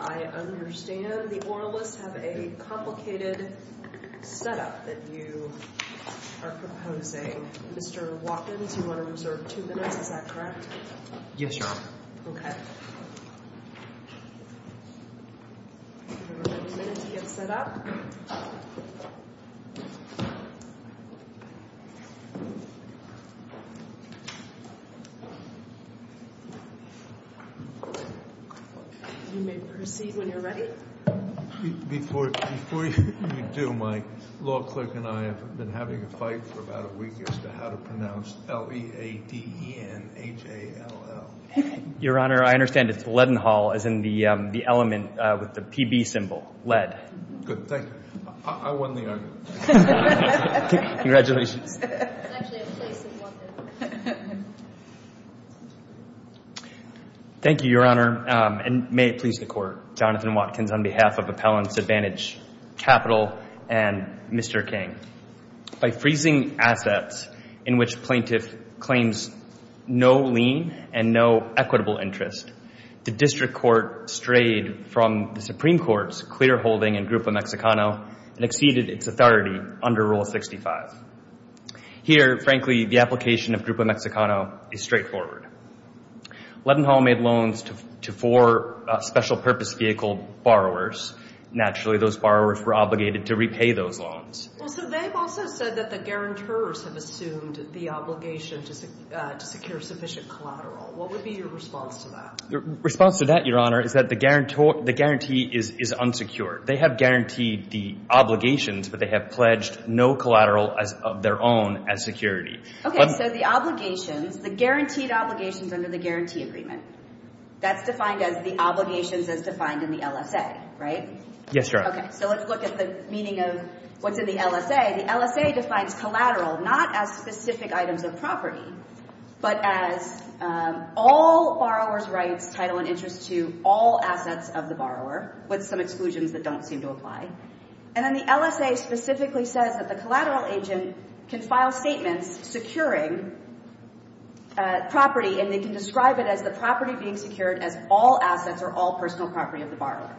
I understand the oralists have a complicated set-up that you are proposing. Mr. Watkins, you want to reserve two minutes, is that correct? Yes, Your Honor. Okay. You have a minute to get set up. You may proceed when you're ready. Before you do, my law clerk and I have been having a fight for about a week as to how to pronounce L-E-A-D-E-N-H-A-L-L. Your Honor, I understand it's Leadenhall as in the element with the PB symbol, lead. Good, thank you. I won the argument. Congratulations. Thank you, Your Honor, and may it please the Court. Jonathan Watkins on behalf of Appellants Advantage Capital and Mr. King. By freezing assets in which plaintiff claims no lien and no equitable interest, the district court strayed from the Supreme Court's clear holding in Grupo Mexicano and exceeded its authority under Rule 65. Here, frankly, the application of Grupo Mexicano is straightforward. Leadenhall made loans to four special purpose vehicle borrowers. Naturally, those borrowers were obligated to repay those loans. Well, so they've also said that the guarantors have assumed the obligation to secure sufficient collateral. What would be your response to that? The response to that, Your Honor, is that the guarantee is unsecured. They have guaranteed the obligations, but they have pledged no collateral of their own as security. Okay, so the obligations, the guaranteed obligations under the guarantee agreement, that's defined as the obligations as defined in the LSA, right? Yes, Your Honor. Okay, so let's look at the meaning of what's in the LSA. The LSA defines collateral not as specific items of property, but as all borrowers' rights, title, and interest to all assets of the borrower, with some exclusions that don't seem to apply. And then the LSA specifically says that the collateral agent can file statements securing property, and they can describe it as the property being secured as all assets or all personal property of the borrower.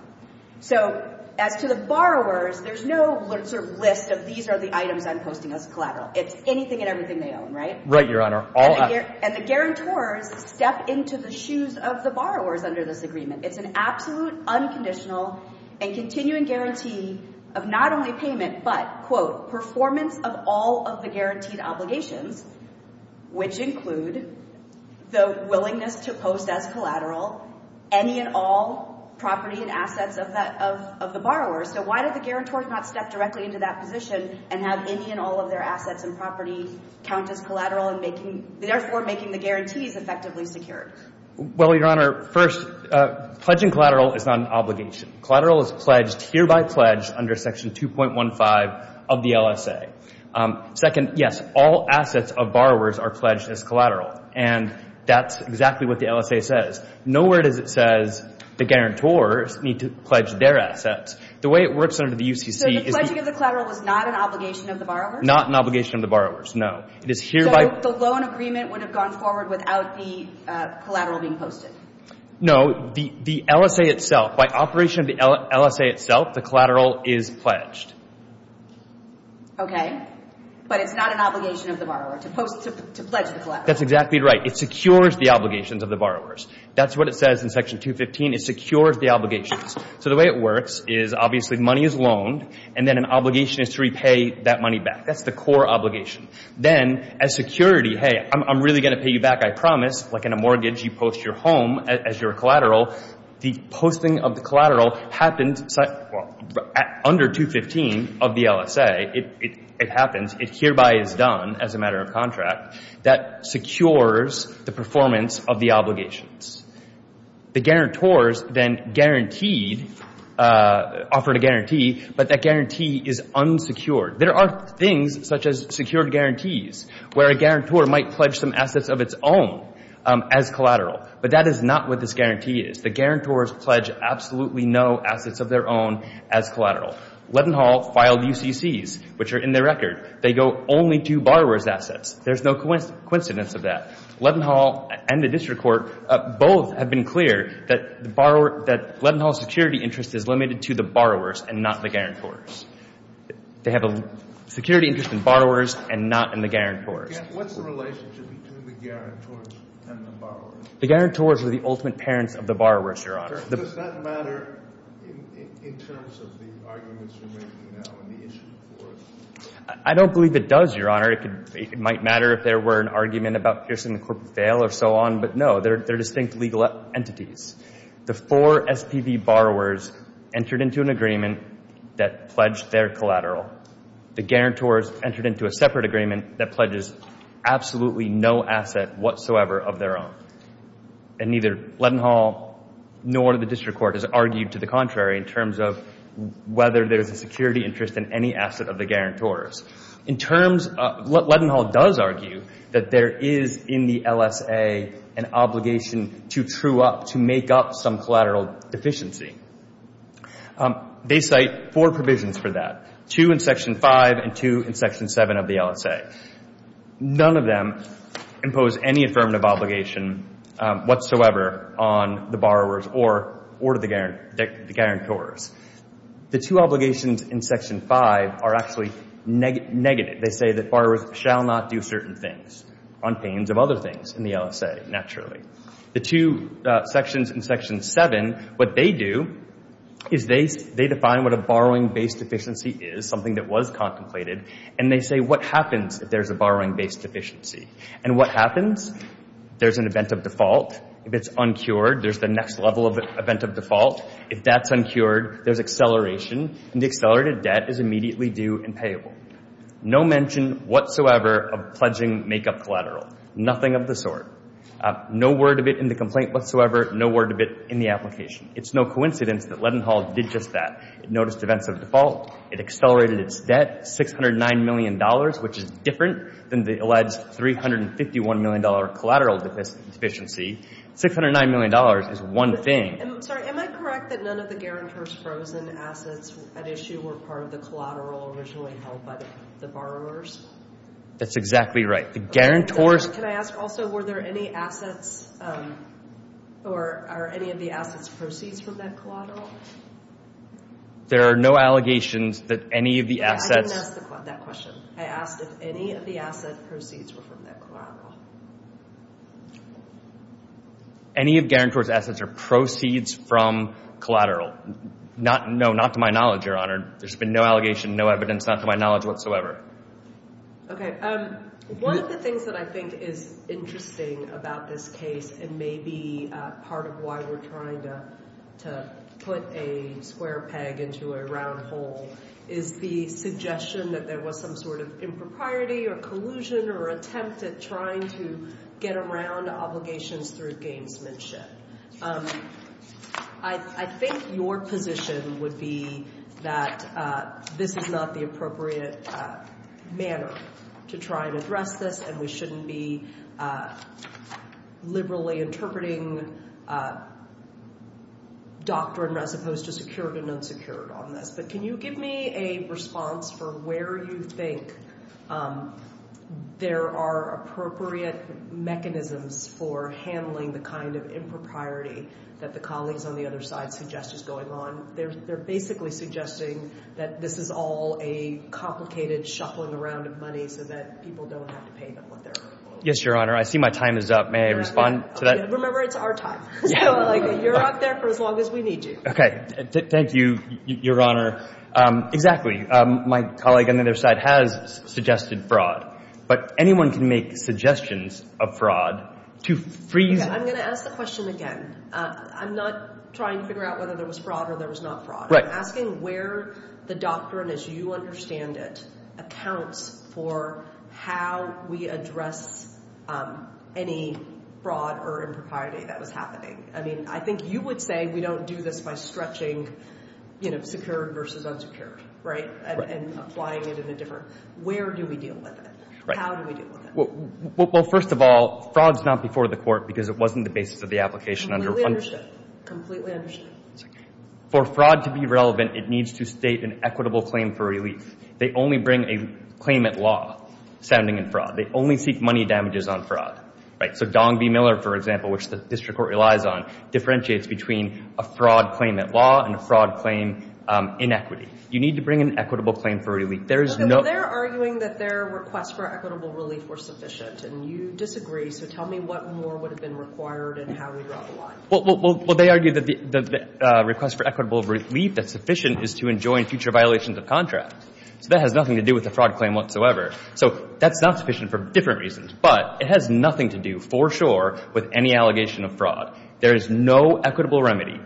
So as to the borrowers, there's no list of these are the items I'm posting as collateral. It's anything and everything they own, right? Right, Your Honor. And the guarantors step into the shoes of the borrowers under this agreement. It's an absolute, unconditional, and continuing guarantee of not only payment, but, quote, of all of the guaranteed obligations, which include the willingness to post as collateral any and all property and assets of the borrower. So why did the guarantor not step directly into that position and have any and all of their assets and property count as collateral and therefore making the guarantees effectively secured? Well, Your Honor, first, pledging collateral is not an obligation. Collateral is pledged, hereby pledged, under Section 2.15 of the LSA. Second, yes, all assets of borrowers are pledged as collateral, and that's exactly what the LSA says. Nowhere does it say the guarantors need to pledge their assets. The way it works under the UCC is the – So the pledging of the collateral is not an obligation of the borrowers? Not an obligation of the borrowers, no. It is hereby – So the loan agreement would have gone forward without the collateral being posted? No. The LSA itself, by operation of the LSA itself, the collateral is pledged. Okay. But it's not an obligation of the borrower to post – to pledge the collateral? That's exactly right. It secures the obligations of the borrowers. That's what it says in Section 2.15. It secures the obligations. So the way it works is, obviously, money is loaned, and then an obligation is to repay that money back. That's the core obligation. Then, as security, hey, I'm really going to pay you back, I promise. Like in a mortgage, you post your home as your collateral. The posting of the collateral happens under 2.15 of the LSA. It happens. It hereby is done as a matter of contract. That secures the performance of the obligations. The guarantors then guaranteed – offered a guarantee, but that guarantee is unsecured. There are things, such as secured guarantees, where a guarantor might pledge some assets of its own as collateral. But that is not what this guarantee is. The guarantors pledge absolutely no assets of their own as collateral. LevinHall filed UCCs, which are in their record. They go only to borrower's assets. There's no coincidence of that. LevinHall and the district court both have been clear that LevinHall's security interest is limited to the borrowers and not the guarantors. They have a security interest in borrowers and not in the guarantors. What's the relationship between the guarantors and the borrowers? The guarantors are the ultimate parents of the borrowers, Your Honor. Does that matter in terms of the arguments you're making now and the issue for us? I don't believe it does, Your Honor. It might matter if there were an argument about Pearson and Corporate Vale or so on, but no. They're distinct legal entities. The four SPV borrowers entered into an agreement that pledged their collateral. The guarantors entered into a separate agreement that pledges absolutely no asset whatsoever of their own. And neither LevinHall nor the district court has argued to the contrary in terms of whether there's a security interest in any asset of the guarantors. In terms of – LevinHall does argue that there is in the LSA an obligation to true up, to make up some collateral deficiency. They cite four provisions for that, two in Section 5 and two in Section 7 of the LSA. None of them impose any affirmative obligation whatsoever on the borrowers or to the guarantors. The two obligations in Section 5 are actually negative. They say that borrowers shall not do certain things on pains of other things in the LSA, naturally. The two sections in Section 7, what they do is they define what a borrowing-based deficiency is, something that was contemplated, and they say what happens if there's a borrowing-based deficiency. And what happens? There's an event of default. If it's uncured, there's the next level of event of default. If that's uncured, there's acceleration, and the accelerated debt is immediately due and payable. No mention whatsoever of pledging make-up collateral. Nothing of the sort. No word of it in the complaint whatsoever. No word of it in the application. It's no coincidence that LevinHall did just that. It noticed events of default. It accelerated its debt $609 million, which is different than the alleged $351 million collateral deficiency. $609 million is one thing. Sorry, am I correct that none of the guarantors' frozen assets at issue were part of the collateral originally held by the borrowers? That's exactly right. The guarantors' Can I ask also, were there any assets or are any of the assets proceeds from that collateral? There are no allegations that any of the assets I didn't ask that question. I asked if any of the asset proceeds were from that collateral. Any of guarantors' assets or proceeds from collateral? No, not to my knowledge, Your Honor. There's been no allegation, no evidence, not to my knowledge whatsoever. Okay. One of the things that I think is interesting about this case and may be part of why we're trying to put a square peg into a round hole is the suggestion that there was some sort of impropriety or collusion or attempt at trying to get around obligations through gamesmanship. I think your position would be that this is not the appropriate manner to try and address this, and we shouldn't be liberally interpreting doctrine as opposed to secured and unsecured on this. But can you give me a response for where you think there are appropriate mechanisms for handling the kind of impropriety that the colleagues on the other side suggest is going on? They're basically suggesting that this is all a complicated shuffling around of money so that people don't have to pay them what they're owed. Yes, Your Honor. I see my time is up. May I respond to that? Remember, it's our time. You're out there for as long as we need you. Okay. Thank you, Your Honor. Exactly. My colleague on the other side has suggested fraud, but anyone can make suggestions of fraud to freeze it. I'm going to ask the question again. I'm not trying to figure out whether there was fraud or there was not fraud. I'm asking where the doctrine as you understand it accounts for how we address any fraud or impropriety that was happening. I think you would say we don't do this by stretching secured versus unsecured and applying it in a different way. Where do we deal with it? How do we deal with it? First of all, fraud is not before the court because it wasn't the basis of the application. Completely understood. For fraud to be relevant, it needs to state an equitable claim for relief. They only bring a claimant law standing in fraud. They only seek money damages on fraud. So Dong v. Miller, for example, which the district court relies on, differentiates between a fraud claimant law and a fraud claim inequity. You need to bring an equitable claim for relief. They're arguing that their requests for equitable relief were sufficient, and you disagree. So tell me what more would have been required and how we draw the line. Well, they argue that the request for equitable relief that's sufficient is to enjoin future violations of contract. So that has nothing to do with the fraud claim whatsoever. So that's not sufficient for different reasons, but it has nothing to do for sure with any allegation of fraud. There is no equitable remedy.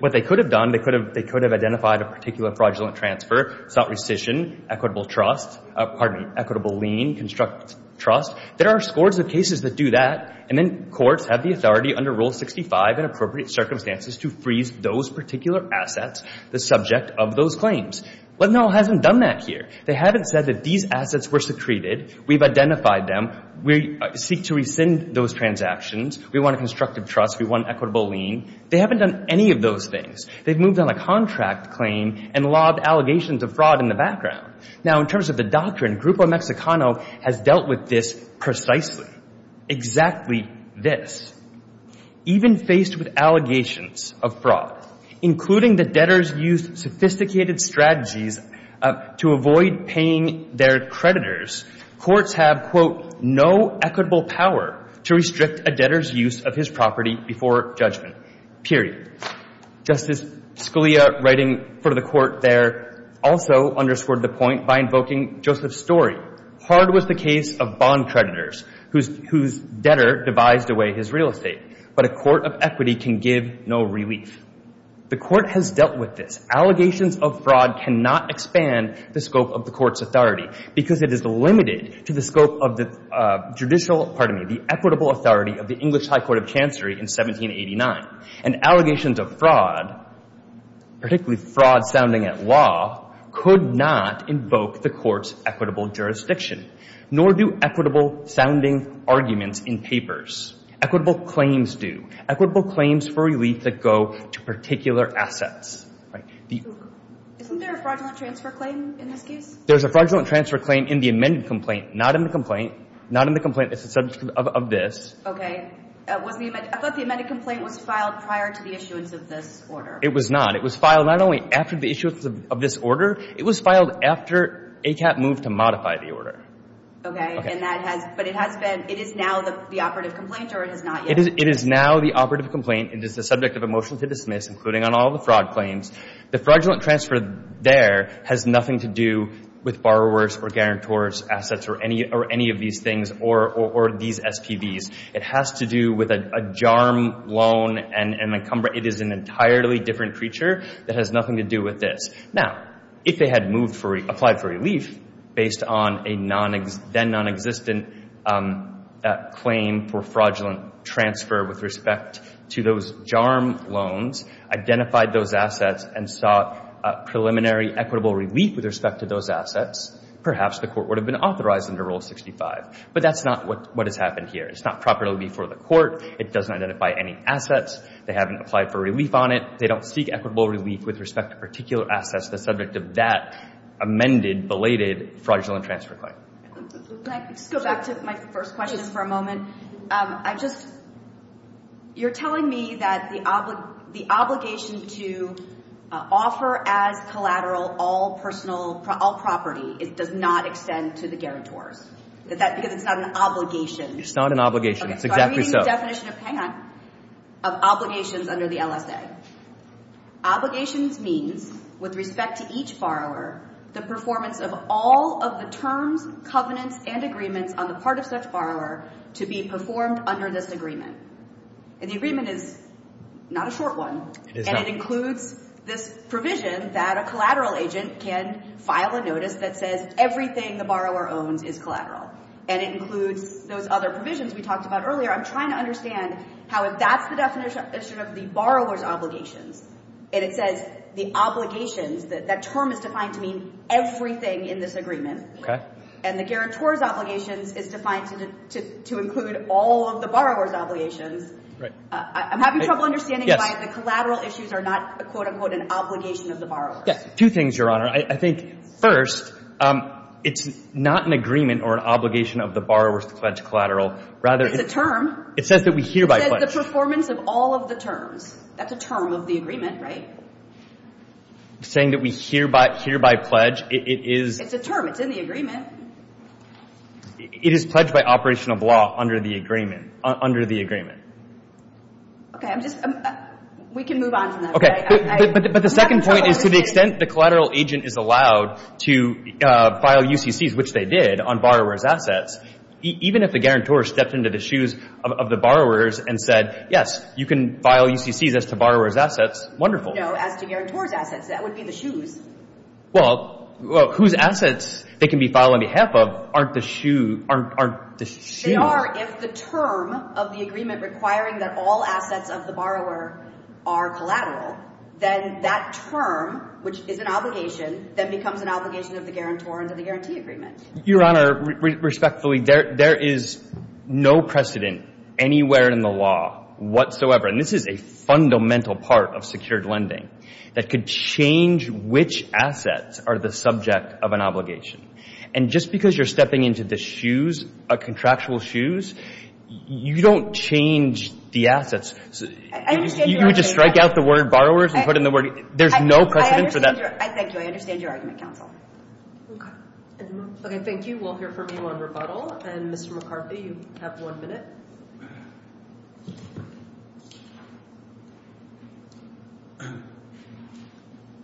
What they could have done, they could have identified a particular fraudulent transfer, sought rescission, equitable trust, pardon me, equitable lien, construct trust. There are scores of cases that do that, and then courts have the authority under Rule 65 in appropriate circumstances to freeze those particular assets, the subject of those claims. But no one has done that here. They haven't said that these assets were secreted, we've identified them, we seek to rescind those transactions, we want a constructive trust, we want an equitable lien. They haven't done any of those things. They've moved on a contract claim and lobbed allegations of fraud in the background. Now, in terms of the doctrine, Grupo Mexicano has dealt with this precisely, exactly this. Even faced with allegations of fraud, including the debtors' use of sophisticated strategies to avoid paying their creditors, courts have, quote, no equitable power to restrict a debtor's use of his property before judgment, period. Justice Scalia, writing for the Court there, also underscored the point by invoking Joseph Story. Hard was the case of bond creditors whose debtor devised away his real estate, but a court of equity can give no relief. The Court has dealt with this. Allegations of fraud cannot expand the scope of the Court's authority because it is limited to the scope of the judicial, pardon me, the equitable authority of the English High Court of Chancery in 1789. And allegations of fraud, particularly fraud sounding at law, could not invoke the Court's equitable jurisdiction, nor do equitable sounding arguments in papers. Equitable claims do. Equitable claims for relief that go to particular assets. Isn't there a fraudulent transfer claim in this case? There's a fraudulent transfer claim in the amended complaint, not in the complaint. Not in the complaint. It's a subject of this. Okay. I thought the amended complaint was filed prior to the issuance of this order. It was not. It was filed not only after the issuance of this order. It was filed after ACAP moved to modify the order. Okay. Okay. But it has been, it is now the operative complaint or it is not yet? It is now the operative complaint. It is the subject of a motion to dismiss, including on all the fraud claims. The fraudulent transfer there has nothing to do with borrowers or guarantors' assets or any of these things or these SPVs. It has to do with a JARM loan and a, it is an entirely different creature that has nothing to do with this. Now, if they had moved for, applied for relief based on a then nonexistent claim for fraudulent transfer with respect to those JARM loans, identified those assets and sought preliminary equitable relief with respect to those assets, perhaps the court would have been authorized under Rule 65. But that's not what has happened here. It's not properly before the court. It doesn't identify any assets. They haven't applied for relief on it. They don't seek equitable relief with respect to particular assets that's subject to that amended, belated fraudulent transfer claim. Can I just go back to my first question for a moment? I just, you're telling me that the obligation to offer as collateral all personal, all property, it does not extend to the guarantors. Is that because it's not an obligation? It's not an obligation. It's exactly so. Okay, so I'm reading the definition of, hang on, of obligations under the LSA. Obligations means with respect to each borrower the performance of all of the terms, covenants, and agreements on the part of such borrower to be performed under this agreement. And the agreement is not a short one. It is not. And it includes this provision that a collateral agent can file a notice that says everything the borrower owns is collateral. And it includes those other provisions we talked about earlier. I'm trying to understand how if that's the definition of the borrower's obligations, and it says the obligations, that term is defined to mean everything in this agreement. Okay. And the guarantor's obligations is defined to include all of the borrower's obligations. Right. I'm having trouble understanding why the collateral issues are not, quote, unquote, an obligation of the borrower. Two things, Your Honor. I think, first, it's not an agreement or an obligation of the borrower to pledge collateral. It's a term. It says that we hereby pledge. It says the performance of all of the terms. That's a term of the agreement, right? Saying that we hereby pledge, it is. It's a term. It's in the agreement. It is pledged by operation of law under the agreement. Okay. I'm just. We can move on from that. But the second point is to the extent the collateral agent is allowed to file UCCs, which they did, on borrower's assets, even if the guarantor stepped into the shoes of the borrowers and said, yes, you can file UCCs as to borrower's assets, wonderful. No, as to guarantor's assets. That would be the shoes. Well, whose assets they can be filed on behalf of aren't the shoe. They are if the term of the agreement requiring that all assets of the borrower are collateral, then that term, which is an obligation, then becomes an obligation of the guarantor under the guarantee agreement. Your Honor, respectfully, there is no precedent anywhere in the law whatsoever, and this is a fundamental part of secured lending, that could change which assets are the subject of an obligation. And just because you're stepping into the shoes, a contractual shoes, you don't change the assets. I understand your argument. You would just strike out the word borrowers and put in the word. There's no precedent for that. I thank you. I understand your argument, counsel. Okay. Thank you. We'll hear from you on rebuttal. And, Mr. McCarthy, you have one minute.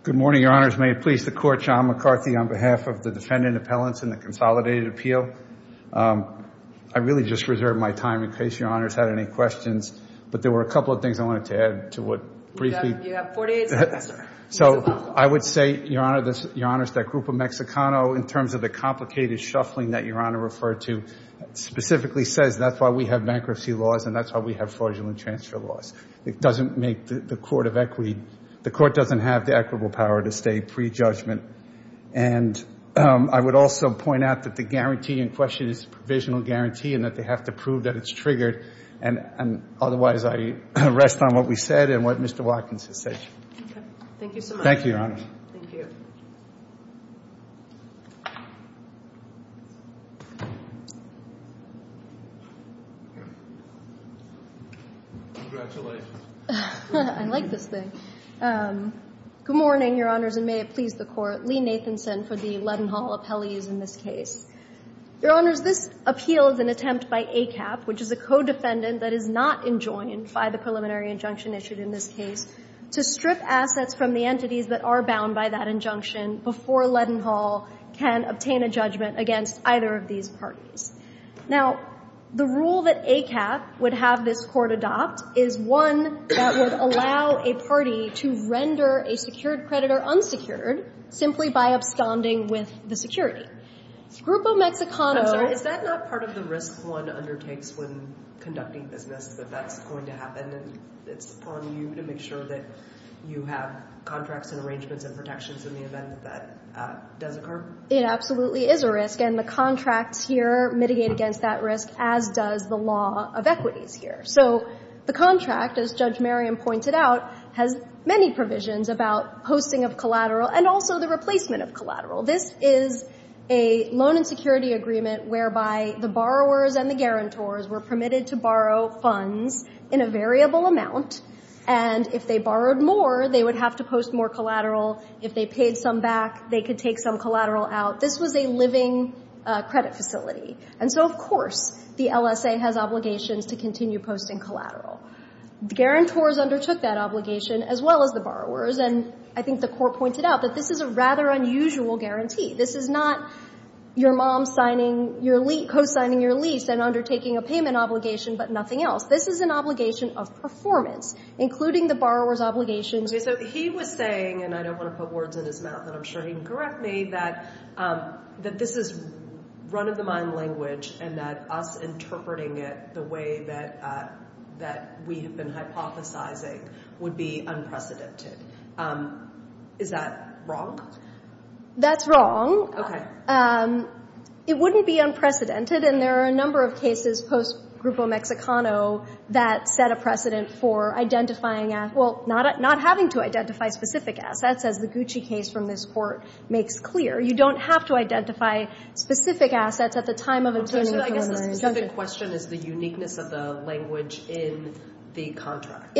Good morning, Your Honors. May it please the Court, John McCarthy, on behalf of the defendant appellants in the consolidated appeal. I really just reserved my time in case Your Honors had any questions, but there were a couple of things I wanted to add to what briefly— You have 48 seconds, sir. So I would say, Your Honors, that Grupo Mexicano, in terms of the complicated shuffling that Your Honor referred to, specifically says that's why we have bankruptcy laws and that's why we have fraudulent transfer laws. It doesn't make the court of equity—the court doesn't have the equitable power to stay pre-judgment. And I would also point out that the guarantee in question is a provisional guarantee and that they have to prove that it's triggered. And otherwise, I rest on what we said and what Mr. Watkins has said. Thank you so much. Thank you, Your Honors. Thank you. Congratulations. I like this thing. Good morning, Your Honors, and may it please the Court. Lee Nathanson for the Leadenhall appellees in this case. Your Honors, this appeal is an attempt by ACAP, which is a co-defendant that is not enjoined by the preliminary injunction issued in this case, to strip assets from the entities that are bound by that injunction before Leadenhall can obtain a judgment against either of these parties. Now, the rule that ACAP would have this court adopt is one that would allow a party to render a secured credit or unsecured simply by abstanding with the security. Grupo Mexicano— Is that not part of the risk one undertakes when conducting business, that that's going to happen and it's on you to make sure that you have contracts and arrangements and protections in the event that that does occur? It absolutely is a risk, and the contracts here mitigate against that risk, as does the law of equities here. So the contract, as Judge Merriam pointed out, has many provisions about posting of collateral and also the replacement of collateral. This is a loan and security agreement whereby the borrowers and the guarantors were permitted to borrow funds in a variable amount, and if they borrowed more, they would have to post more collateral. If they paid some back, they could take some collateral out. This was a living credit facility. And so, of course, the LSA has obligations to continue posting collateral. The guarantors undertook that obligation as well as the borrowers, and I think the Court pointed out that this is a rather unusual guarantee. This is not your mom signing your lease, co-signing your lease and undertaking a payment obligation, but nothing else. This is an obligation of performance, including the borrower's obligations— Okay, so he was saying, and I don't want to put words in his mouth, and I'm sure he can correct me, that this is run-of-the-mind language and that us interpreting it the way that we have been hypothesizing would be unprecedented. Is that wrong? That's wrong. Okay. It wouldn't be unprecedented, and there are a number of cases post-Grupo Mexicano that set a precedent for identifying—well, not having to identify specific assets, as the Gucci case from this Court makes clear. You don't have to identify specific assets at the time of a turning point. Okay, so I guess the specific question is the uniqueness of the language in the contract.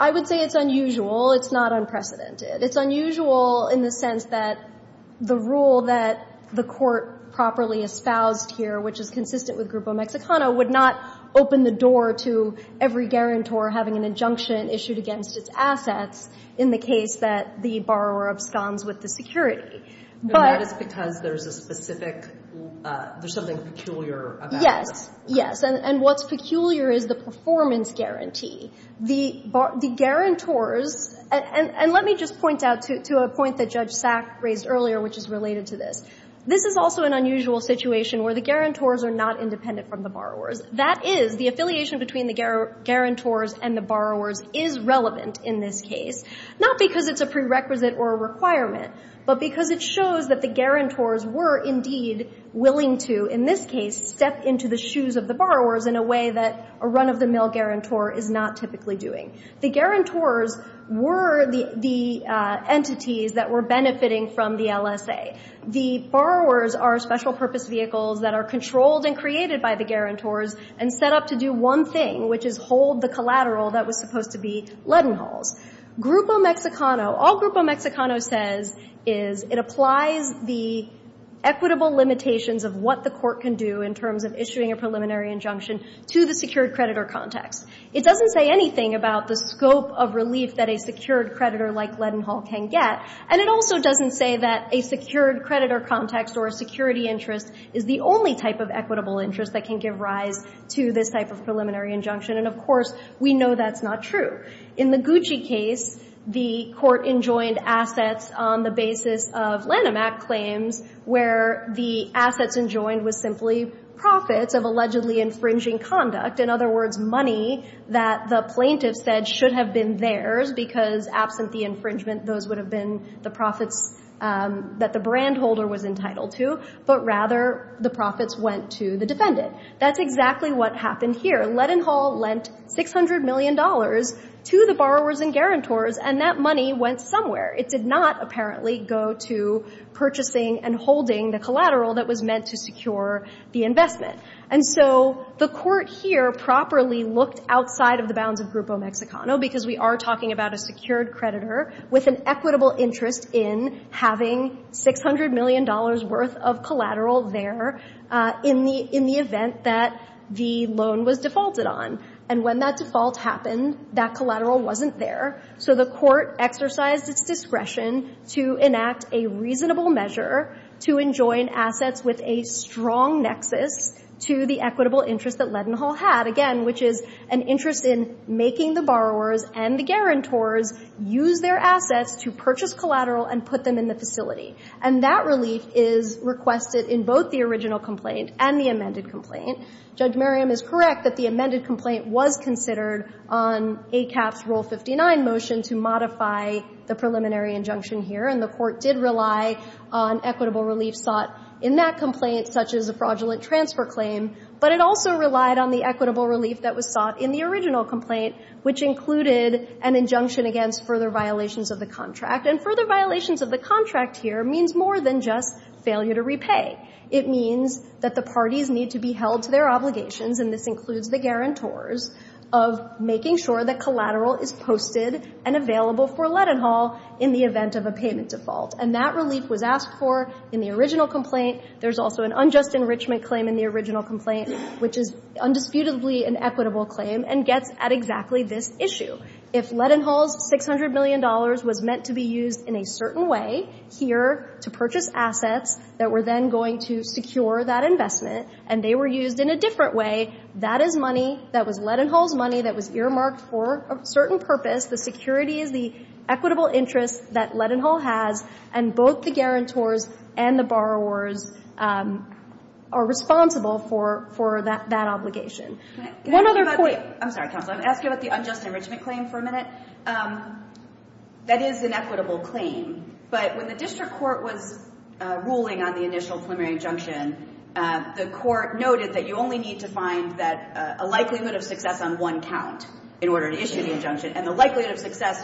I would say it's unusual. It's not unprecedented. It's unusual in the sense that the rule that the Court properly espoused here, which is consistent with Grupo Mexicano, would not open the door to every guarantor having an injunction issued against its assets in the case that the borrower absconds with the security. But that is because there's a specific—there's something peculiar about it. Yes, yes. And what's peculiar is the performance guarantee. The guarantors—and let me just point out to a point that Judge Sack raised earlier, which is related to this. This is also an unusual situation where the guarantors are not independent from the borrowers. That is, the affiliation between the guarantors and the borrowers is relevant in this case, not because it's a prerequisite or a requirement, but because it shows that the guarantors were indeed willing to, in this case, step into the shoes of the borrowers in a way that a run-of-the-mill guarantor is not typically doing. The guarantors were the entities that were benefiting from the LSA. The borrowers are special-purpose vehicles that are controlled and created by the guarantors and set up to do one thing, which is hold the collateral that was supposed to be Leadenhalls. Grupo Mexicano—all Grupo Mexicano says is it applies the equitable limitations of what the court can do in terms of issuing a preliminary injunction to the secured creditor context. It doesn't say anything about the scope of relief that a secured creditor like Leadenhall can get, and it also doesn't say that a secured creditor context or a security interest is the only type of equitable interest that can give rise to this type of preliminary injunction. And, of course, we know that's not true. In the Gucci case, the court enjoined assets on the basis of Lanham Act claims where the assets enjoined was simply profits of allegedly infringing conduct, in other words, money that the plaintiff said should have been theirs because absent the infringement, those would have been the profits that the brand holder was entitled to, but rather the profits went to the defendant. That's exactly what happened here. Leadenhall lent $600 million to the borrowers and guarantors, and that money went somewhere. It did not apparently go to purchasing and holding the collateral that was meant to secure the investment. And so the court here properly looked outside of the bounds of Grupo Mexicano because we are talking about a secured creditor with an equitable interest in having $600 million worth of collateral there in the event that the loan was defaulted on. And when that default happened, that collateral wasn't there, so the court exercised its discretion to enact a reasonable measure to enjoin assets with a strong nexus to the equitable interest that Leadenhall had, again, which is an interest in making the borrowers and the guarantors use their assets to purchase collateral and put them in the facility. And that relief is requested in both the original complaint and the amended complaint. Judge Merriam is correct that the amended complaint was considered on ACAP's Rule 59 motion to modify the preliminary injunction here, and the court did rely on equitable relief sought in that complaint, such as a fraudulent transfer claim. But it also relied on the equitable relief that was sought in the original complaint, which included an injunction against further violations of the contract. And further violations of the contract here means more than just failure to repay. It means that the parties need to be held to their obligations, and this includes the guarantors, of making sure that collateral is posted and available for Leadenhall in the event of a payment default. And that relief was asked for in the original complaint. There's also an unjust enrichment claim in the original complaint, which is undisputedly an equitable claim and gets at exactly this issue. If Leadenhall's $600 million was meant to be used in a certain way here to purchase assets that were then going to secure that investment, and they were used in a different way, that is money that was Leadenhall's money that was earmarked for a certain purpose. The security is the equitable interest that Leadenhall has, and both the guarantors and the borrowers are responsible for that obligation. One other point. I'm sorry, counsel. I'm going to ask you about the unjust enrichment claim for a minute. That is an equitable claim. But when the district court was ruling on the initial preliminary injunction, the court noted that you only need to find a likelihood of success on one count in order to issue the injunction, and the likelihood of success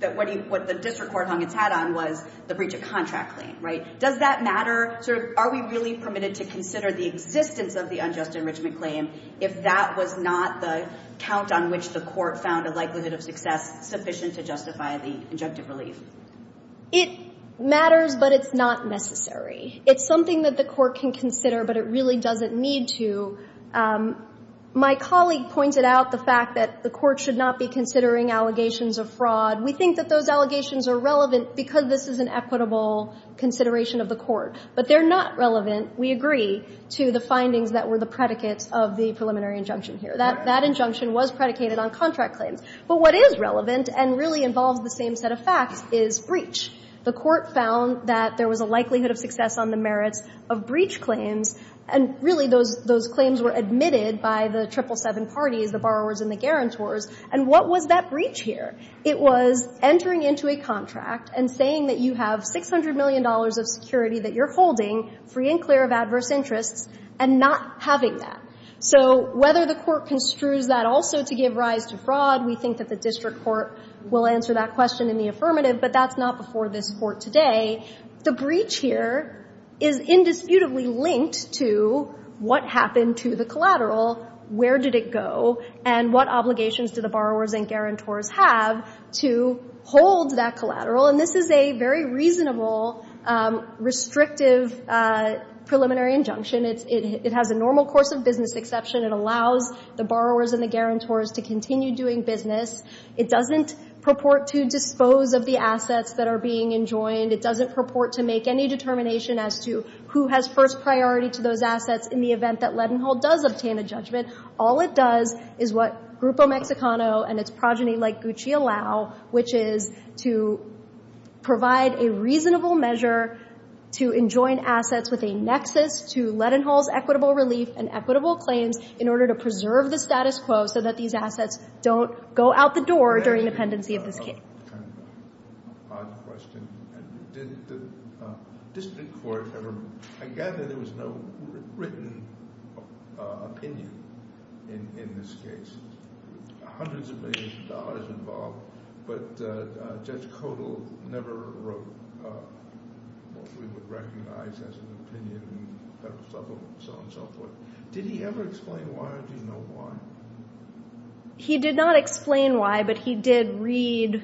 that what the district court hung its hat on was the breach of contract claim, right? Does that matter? Are we really permitted to consider the existence of the unjust enrichment claim if that was not the count on which the court found a likelihood of success sufficient to justify the injunctive relief? It matters, but it's not necessary. It's something that the court can consider, but it really doesn't need to. My colleague pointed out the fact that the court should not be considering allegations of fraud. We think that those allegations are relevant because this is an equitable consideration of the court, but they're not relevant, we agree, to the findings that were the predicates of the preliminary injunction here. That injunction was predicated on contract claims. But what is relevant and really involves the same set of facts is breach. The court found that there was a likelihood of success on the merits of breach claims, and really those claims were admitted by the 777 parties, the borrowers and the guarantors. And what was that breach here? It was entering into a contract and saying that you have $600 million of security that you're holding free and clear of adverse interests and not having that. So whether the court construes that also to give rise to fraud, we think that the district court will answer that question in the affirmative, but that's not before this Court today. The breach here is indisputably linked to what happened to the collateral, where did it go, and what obligations do the borrowers and guarantors have to hold that collateral. And this is a very reasonable, restrictive preliminary injunction. It has a normal course of business exception. It allows the borrowers and the guarantors to continue doing business. It doesn't purport to dispose of the assets that are being enjoined. It doesn't purport to make any determination as to who has first priority to those assets in the event that Ledenhall does obtain a judgment. All it does is what Grupo Mexicano and its progeny like Gucci allow, which is to provide a reasonable measure to enjoin assets with a nexus to Ledenhall's equitable relief and equitable claims in order to preserve the status quo so that these assets don't go out the door during the pendency of this case. Kind of an odd question. Did the district court ever – I gather there was no written opinion in this case. Hundreds of millions of dollars involved, but Judge Codall never wrote what we would recognize as an opinion and so on and so forth. Did he ever explain why or do you know why? He did not explain why, but he did read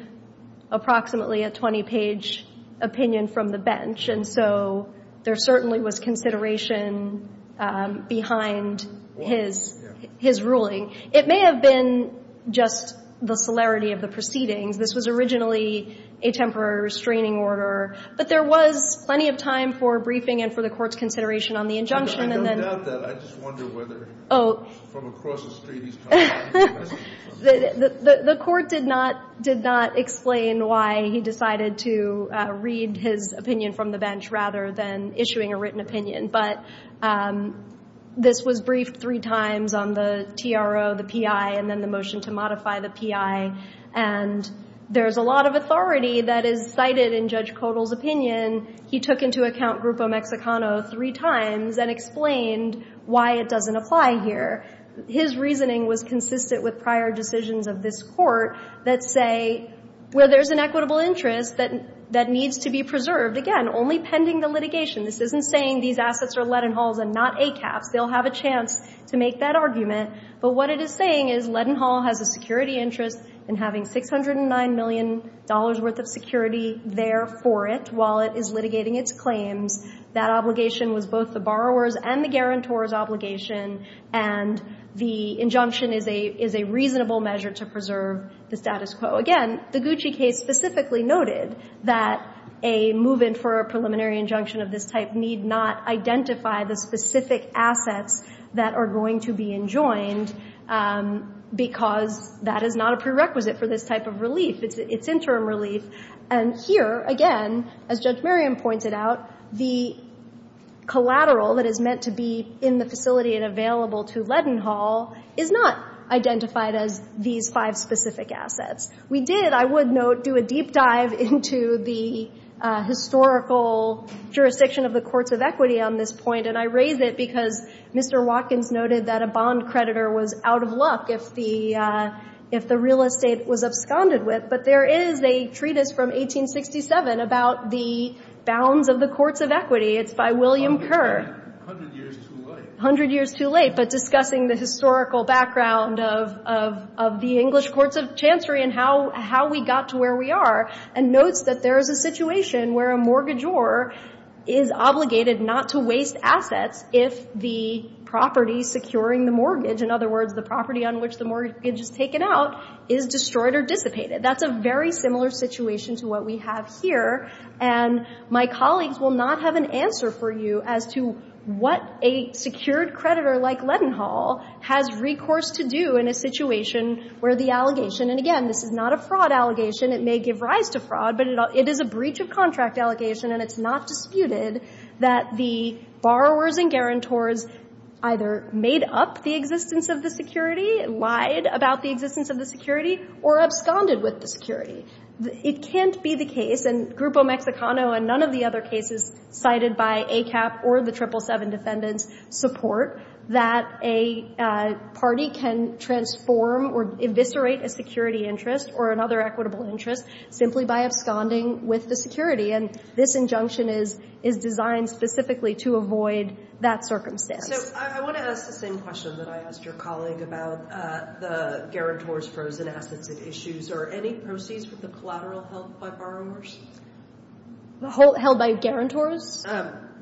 approximately a 20-page opinion from the bench and so there certainly was consideration behind his ruling. It may have been just the celerity of the proceedings. This was originally a temporary restraining order, but there was plenty of time for briefing and for the court's consideration on the injunction. I don't doubt that. I just wonder whether from across the street he's talking. The court did not explain why he decided to read his opinion from the bench rather than issuing a written opinion, but this was briefed three times on the TRO, the PI, and then the motion to modify the PI, and there's a lot of authority that is cited in Judge Codall's opinion. He took into account Grupo Mexicano three times and explained why it doesn't apply here. His reasoning was consistent with prior decisions of this court that say where there's an equitable interest that needs to be preserved, again, only pending the litigation. This isn't saying these assets are Leadenhalls and not ACAPs. They'll have a chance to make that argument, but what it is saying is Leadenhall has a security interest in having $609 million worth of security there for it while it is litigating its claims. That obligation was both the borrower's and the guarantor's obligation, and the injunction is a reasonable measure to preserve the status quo. Again, the Gucci case specifically noted that a move-in for a preliminary injunction of this type need not identify the specific assets that are going to be enjoined because that is not a prerequisite for this type of relief. It's interim relief. And here, again, as Judge Merriam pointed out, the collateral that is meant to be in the facility and available to Leadenhall is not identified as these five specific assets. We did, I would note, do a deep dive into the historical jurisdiction of the courts of equity on this point, and I raise it because Mr. Watkins noted that a bond creditor was out of luck if the real estate was absconded with, but there is a treatise from 1867 about the bounds of the courts of equity. It's by William Kerr. A hundred years too late. A hundred years too late, but discussing the historical background of the English courts of chancery and how we got to where we are, and notes that there is a situation where a mortgagor is obligated not to waste assets if the property securing the mortgage, in other words, the property on which the mortgage is taken out, is destroyed or dissipated. That's a very similar situation to what we have here, and my colleagues will not have an answer for you as to what a secured creditor like Leadenhall has recourse to do in a situation where the allegation, and again, this is not a fraud allegation. It may give rise to fraud, but it is a breach of contract allegation, and it's not disputed that the borrowers and guarantors either made up the existence of the security, lied about the existence of the security, or absconded with the security. It can't be the case, and Grupo Mexicano and none of the other cases cited by ACAP or the 777 defendants support that a party can transform or eviscerate a security interest or another equitable interest simply by absconding with the security, and this injunction is designed specifically to avoid that circumstance. So I want to ask the same question that I asked your colleague about the guarantors' frozen assets at issues. Are any proceeds from the collateral held by borrowers? Held by guarantors?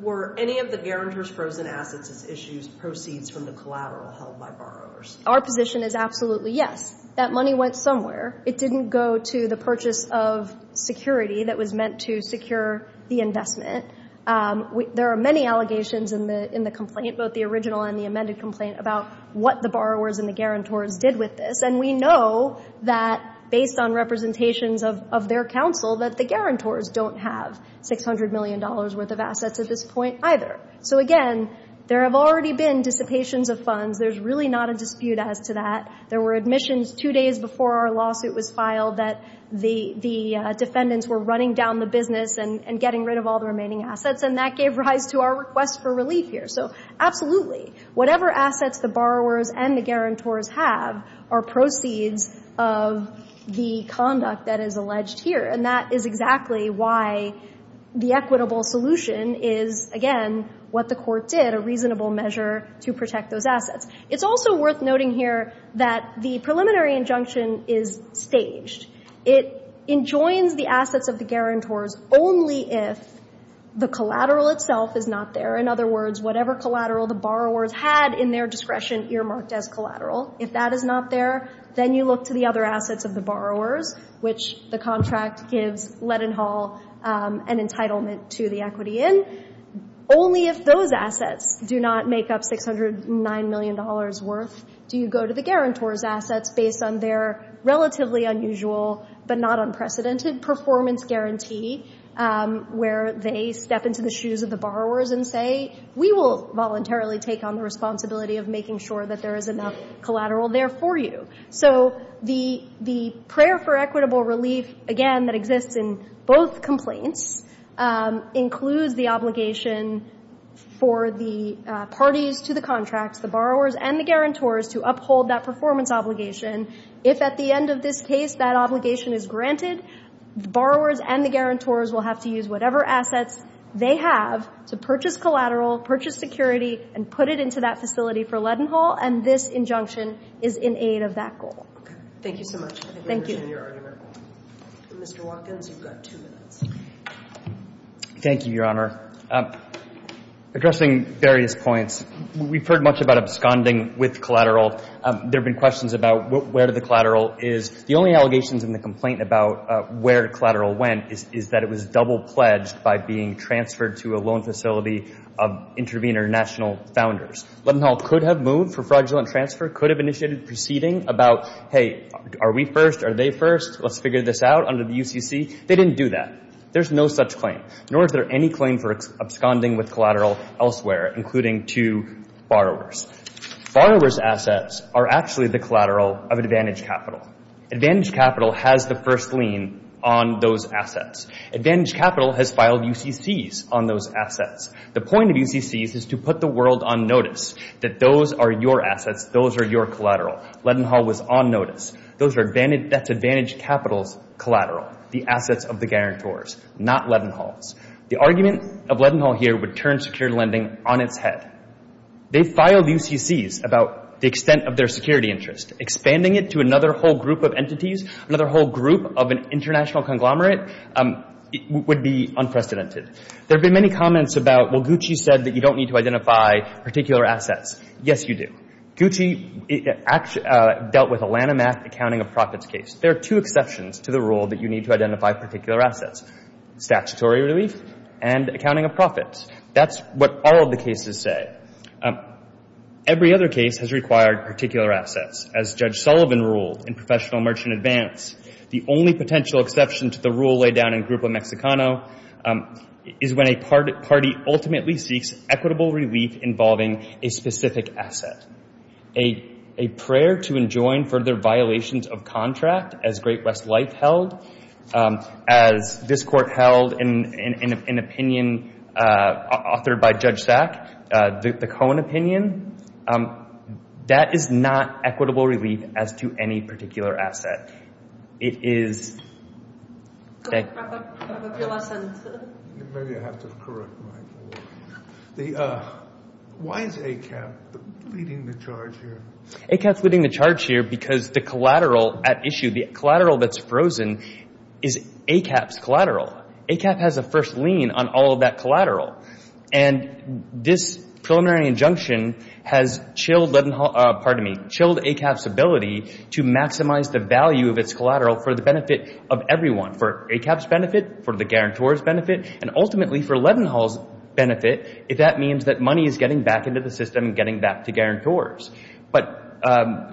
Were any of the guarantors' frozen assets at issues proceeds from the collateral held by borrowers? Our position is absolutely yes. That money went somewhere. It didn't go to the purchase of security that was meant to secure the investment. There are many allegations in the complaint, both the original and the amended complaint, about what the borrowers and the guarantors did with this, and we know that based on representations of their counsel that the guarantors don't have $600 million worth of assets at this point either. So again, there have already been dissipations of funds. There's really not a dispute as to that. There were admissions two days before our lawsuit was filed that the defendants were running down the business and getting rid of all the remaining assets, and that gave rise to our request for relief here. So absolutely, whatever assets the borrowers and the guarantors have are proceeds of the conduct that is alleged here, and that is exactly why the equitable solution is, again, what the court did, a reasonable measure to protect those assets. It's also worth noting here that the preliminary injunction is staged. It enjoins the assets of the guarantors only if the collateral itself is not there. In other words, whatever collateral the borrowers had in their discretion earmarked as collateral, if that is not there, then you look to the other assets of the borrowers, which the contract gives Lettenhall an entitlement to the equity in. Only if those assets do not make up $609 million worth do you go to the guarantors' assets based on their relatively unusual but not unprecedented performance guarantee, where they step into the shoes of the borrowers and say, we will voluntarily take on the responsibility of making sure that there is enough collateral there for you. So the prayer for equitable relief, again, that exists in both complaints, includes the obligation for the parties to the contracts, the borrowers and the guarantors, to uphold that performance obligation. If at the end of this case that obligation is granted, the borrowers and the guarantors will have to use whatever assets they have to purchase collateral, purchase security, and put it into that facility for Lettenhall. And this injunction is in aid of that goal. Thank you so much. Thank you. Mr. Watkins, you've got two minutes. Thank you, Your Honor. Addressing various points, we've heard much about absconding with collateral. There have been questions about where the collateral is. The only allegations in the complaint about where collateral went is that it was double-pledged by being transferred to a loan facility of Intervenor National founders. Lettenhall could have moved for fraudulent transfer, could have initiated proceeding about, hey, are we first, are they first, let's figure this out under the UCC. They didn't do that. There's no such claim, nor is there any claim for absconding with collateral elsewhere, including to borrowers. Borrowers' assets are actually the collateral of Advantage Capital. Advantage Capital has the first lien on those assets. Advantage Capital has filed UCCs on those assets. The point of UCCs is to put the world on notice that those are your assets, those are your collateral. Lettenhall was on notice. That's Advantage Capital's collateral, the assets of the guarantors, not Lettenhall's. The argument of Lettenhall here would turn secure lending on its head. They filed UCCs about the extent of their security interest. Expanding it to another whole group of entities, another whole group of an international conglomerate, would be unprecedented. There have been many comments about, well, Gucci said that you don't need to identify particular assets. Yes, you do. Gucci dealt with a Lanhamath accounting of profits case. There are two exceptions to the rule that you need to identify particular assets, statutory relief and accounting of profits. That's what all of the cases say. Every other case has required particular assets, as Judge Sullivan ruled in Professional Merchant Advance. The only potential exception to the rule laid down in Grupo Mexicano is when a party ultimately seeks equitable relief involving a specific asset. A prayer to enjoin further violations of contract as Great West Life held, as this court held in an opinion authored by Judge Sack, the Cohen opinion. That is not equitable relief as to any particular asset. It is... Wrap up your last sentence. Maybe I have to correct my... Why is ACAP leading the charge here? ACAP's leading the charge here because the collateral at issue, the collateral that's frozen, is ACAP's collateral. ACAP has a first lien on all of that collateral. And this preliminary injunction has chilled ACAP's ability to maximize the value of its collateral for the benefit of everyone. For ACAP's benefit, for the guarantor's benefit, and ultimately for Levinhall's benefit, if that means that money is getting back into the system and getting back to guarantors. But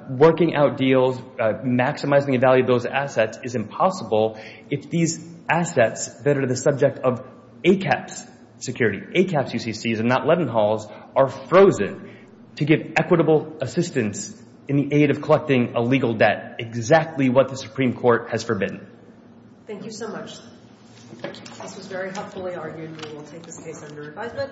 working out deals, maximizing the value of those assets is impossible if these assets that are the subject of ACAP's security, ACAP's UCCs and not Levinhall's, are frozen to give equitable assistance in the aid of collecting a legal debt. Exactly what the Supreme Court has forbidden. Thank you so much. This was very helpfully argued. We will take this case under advisement.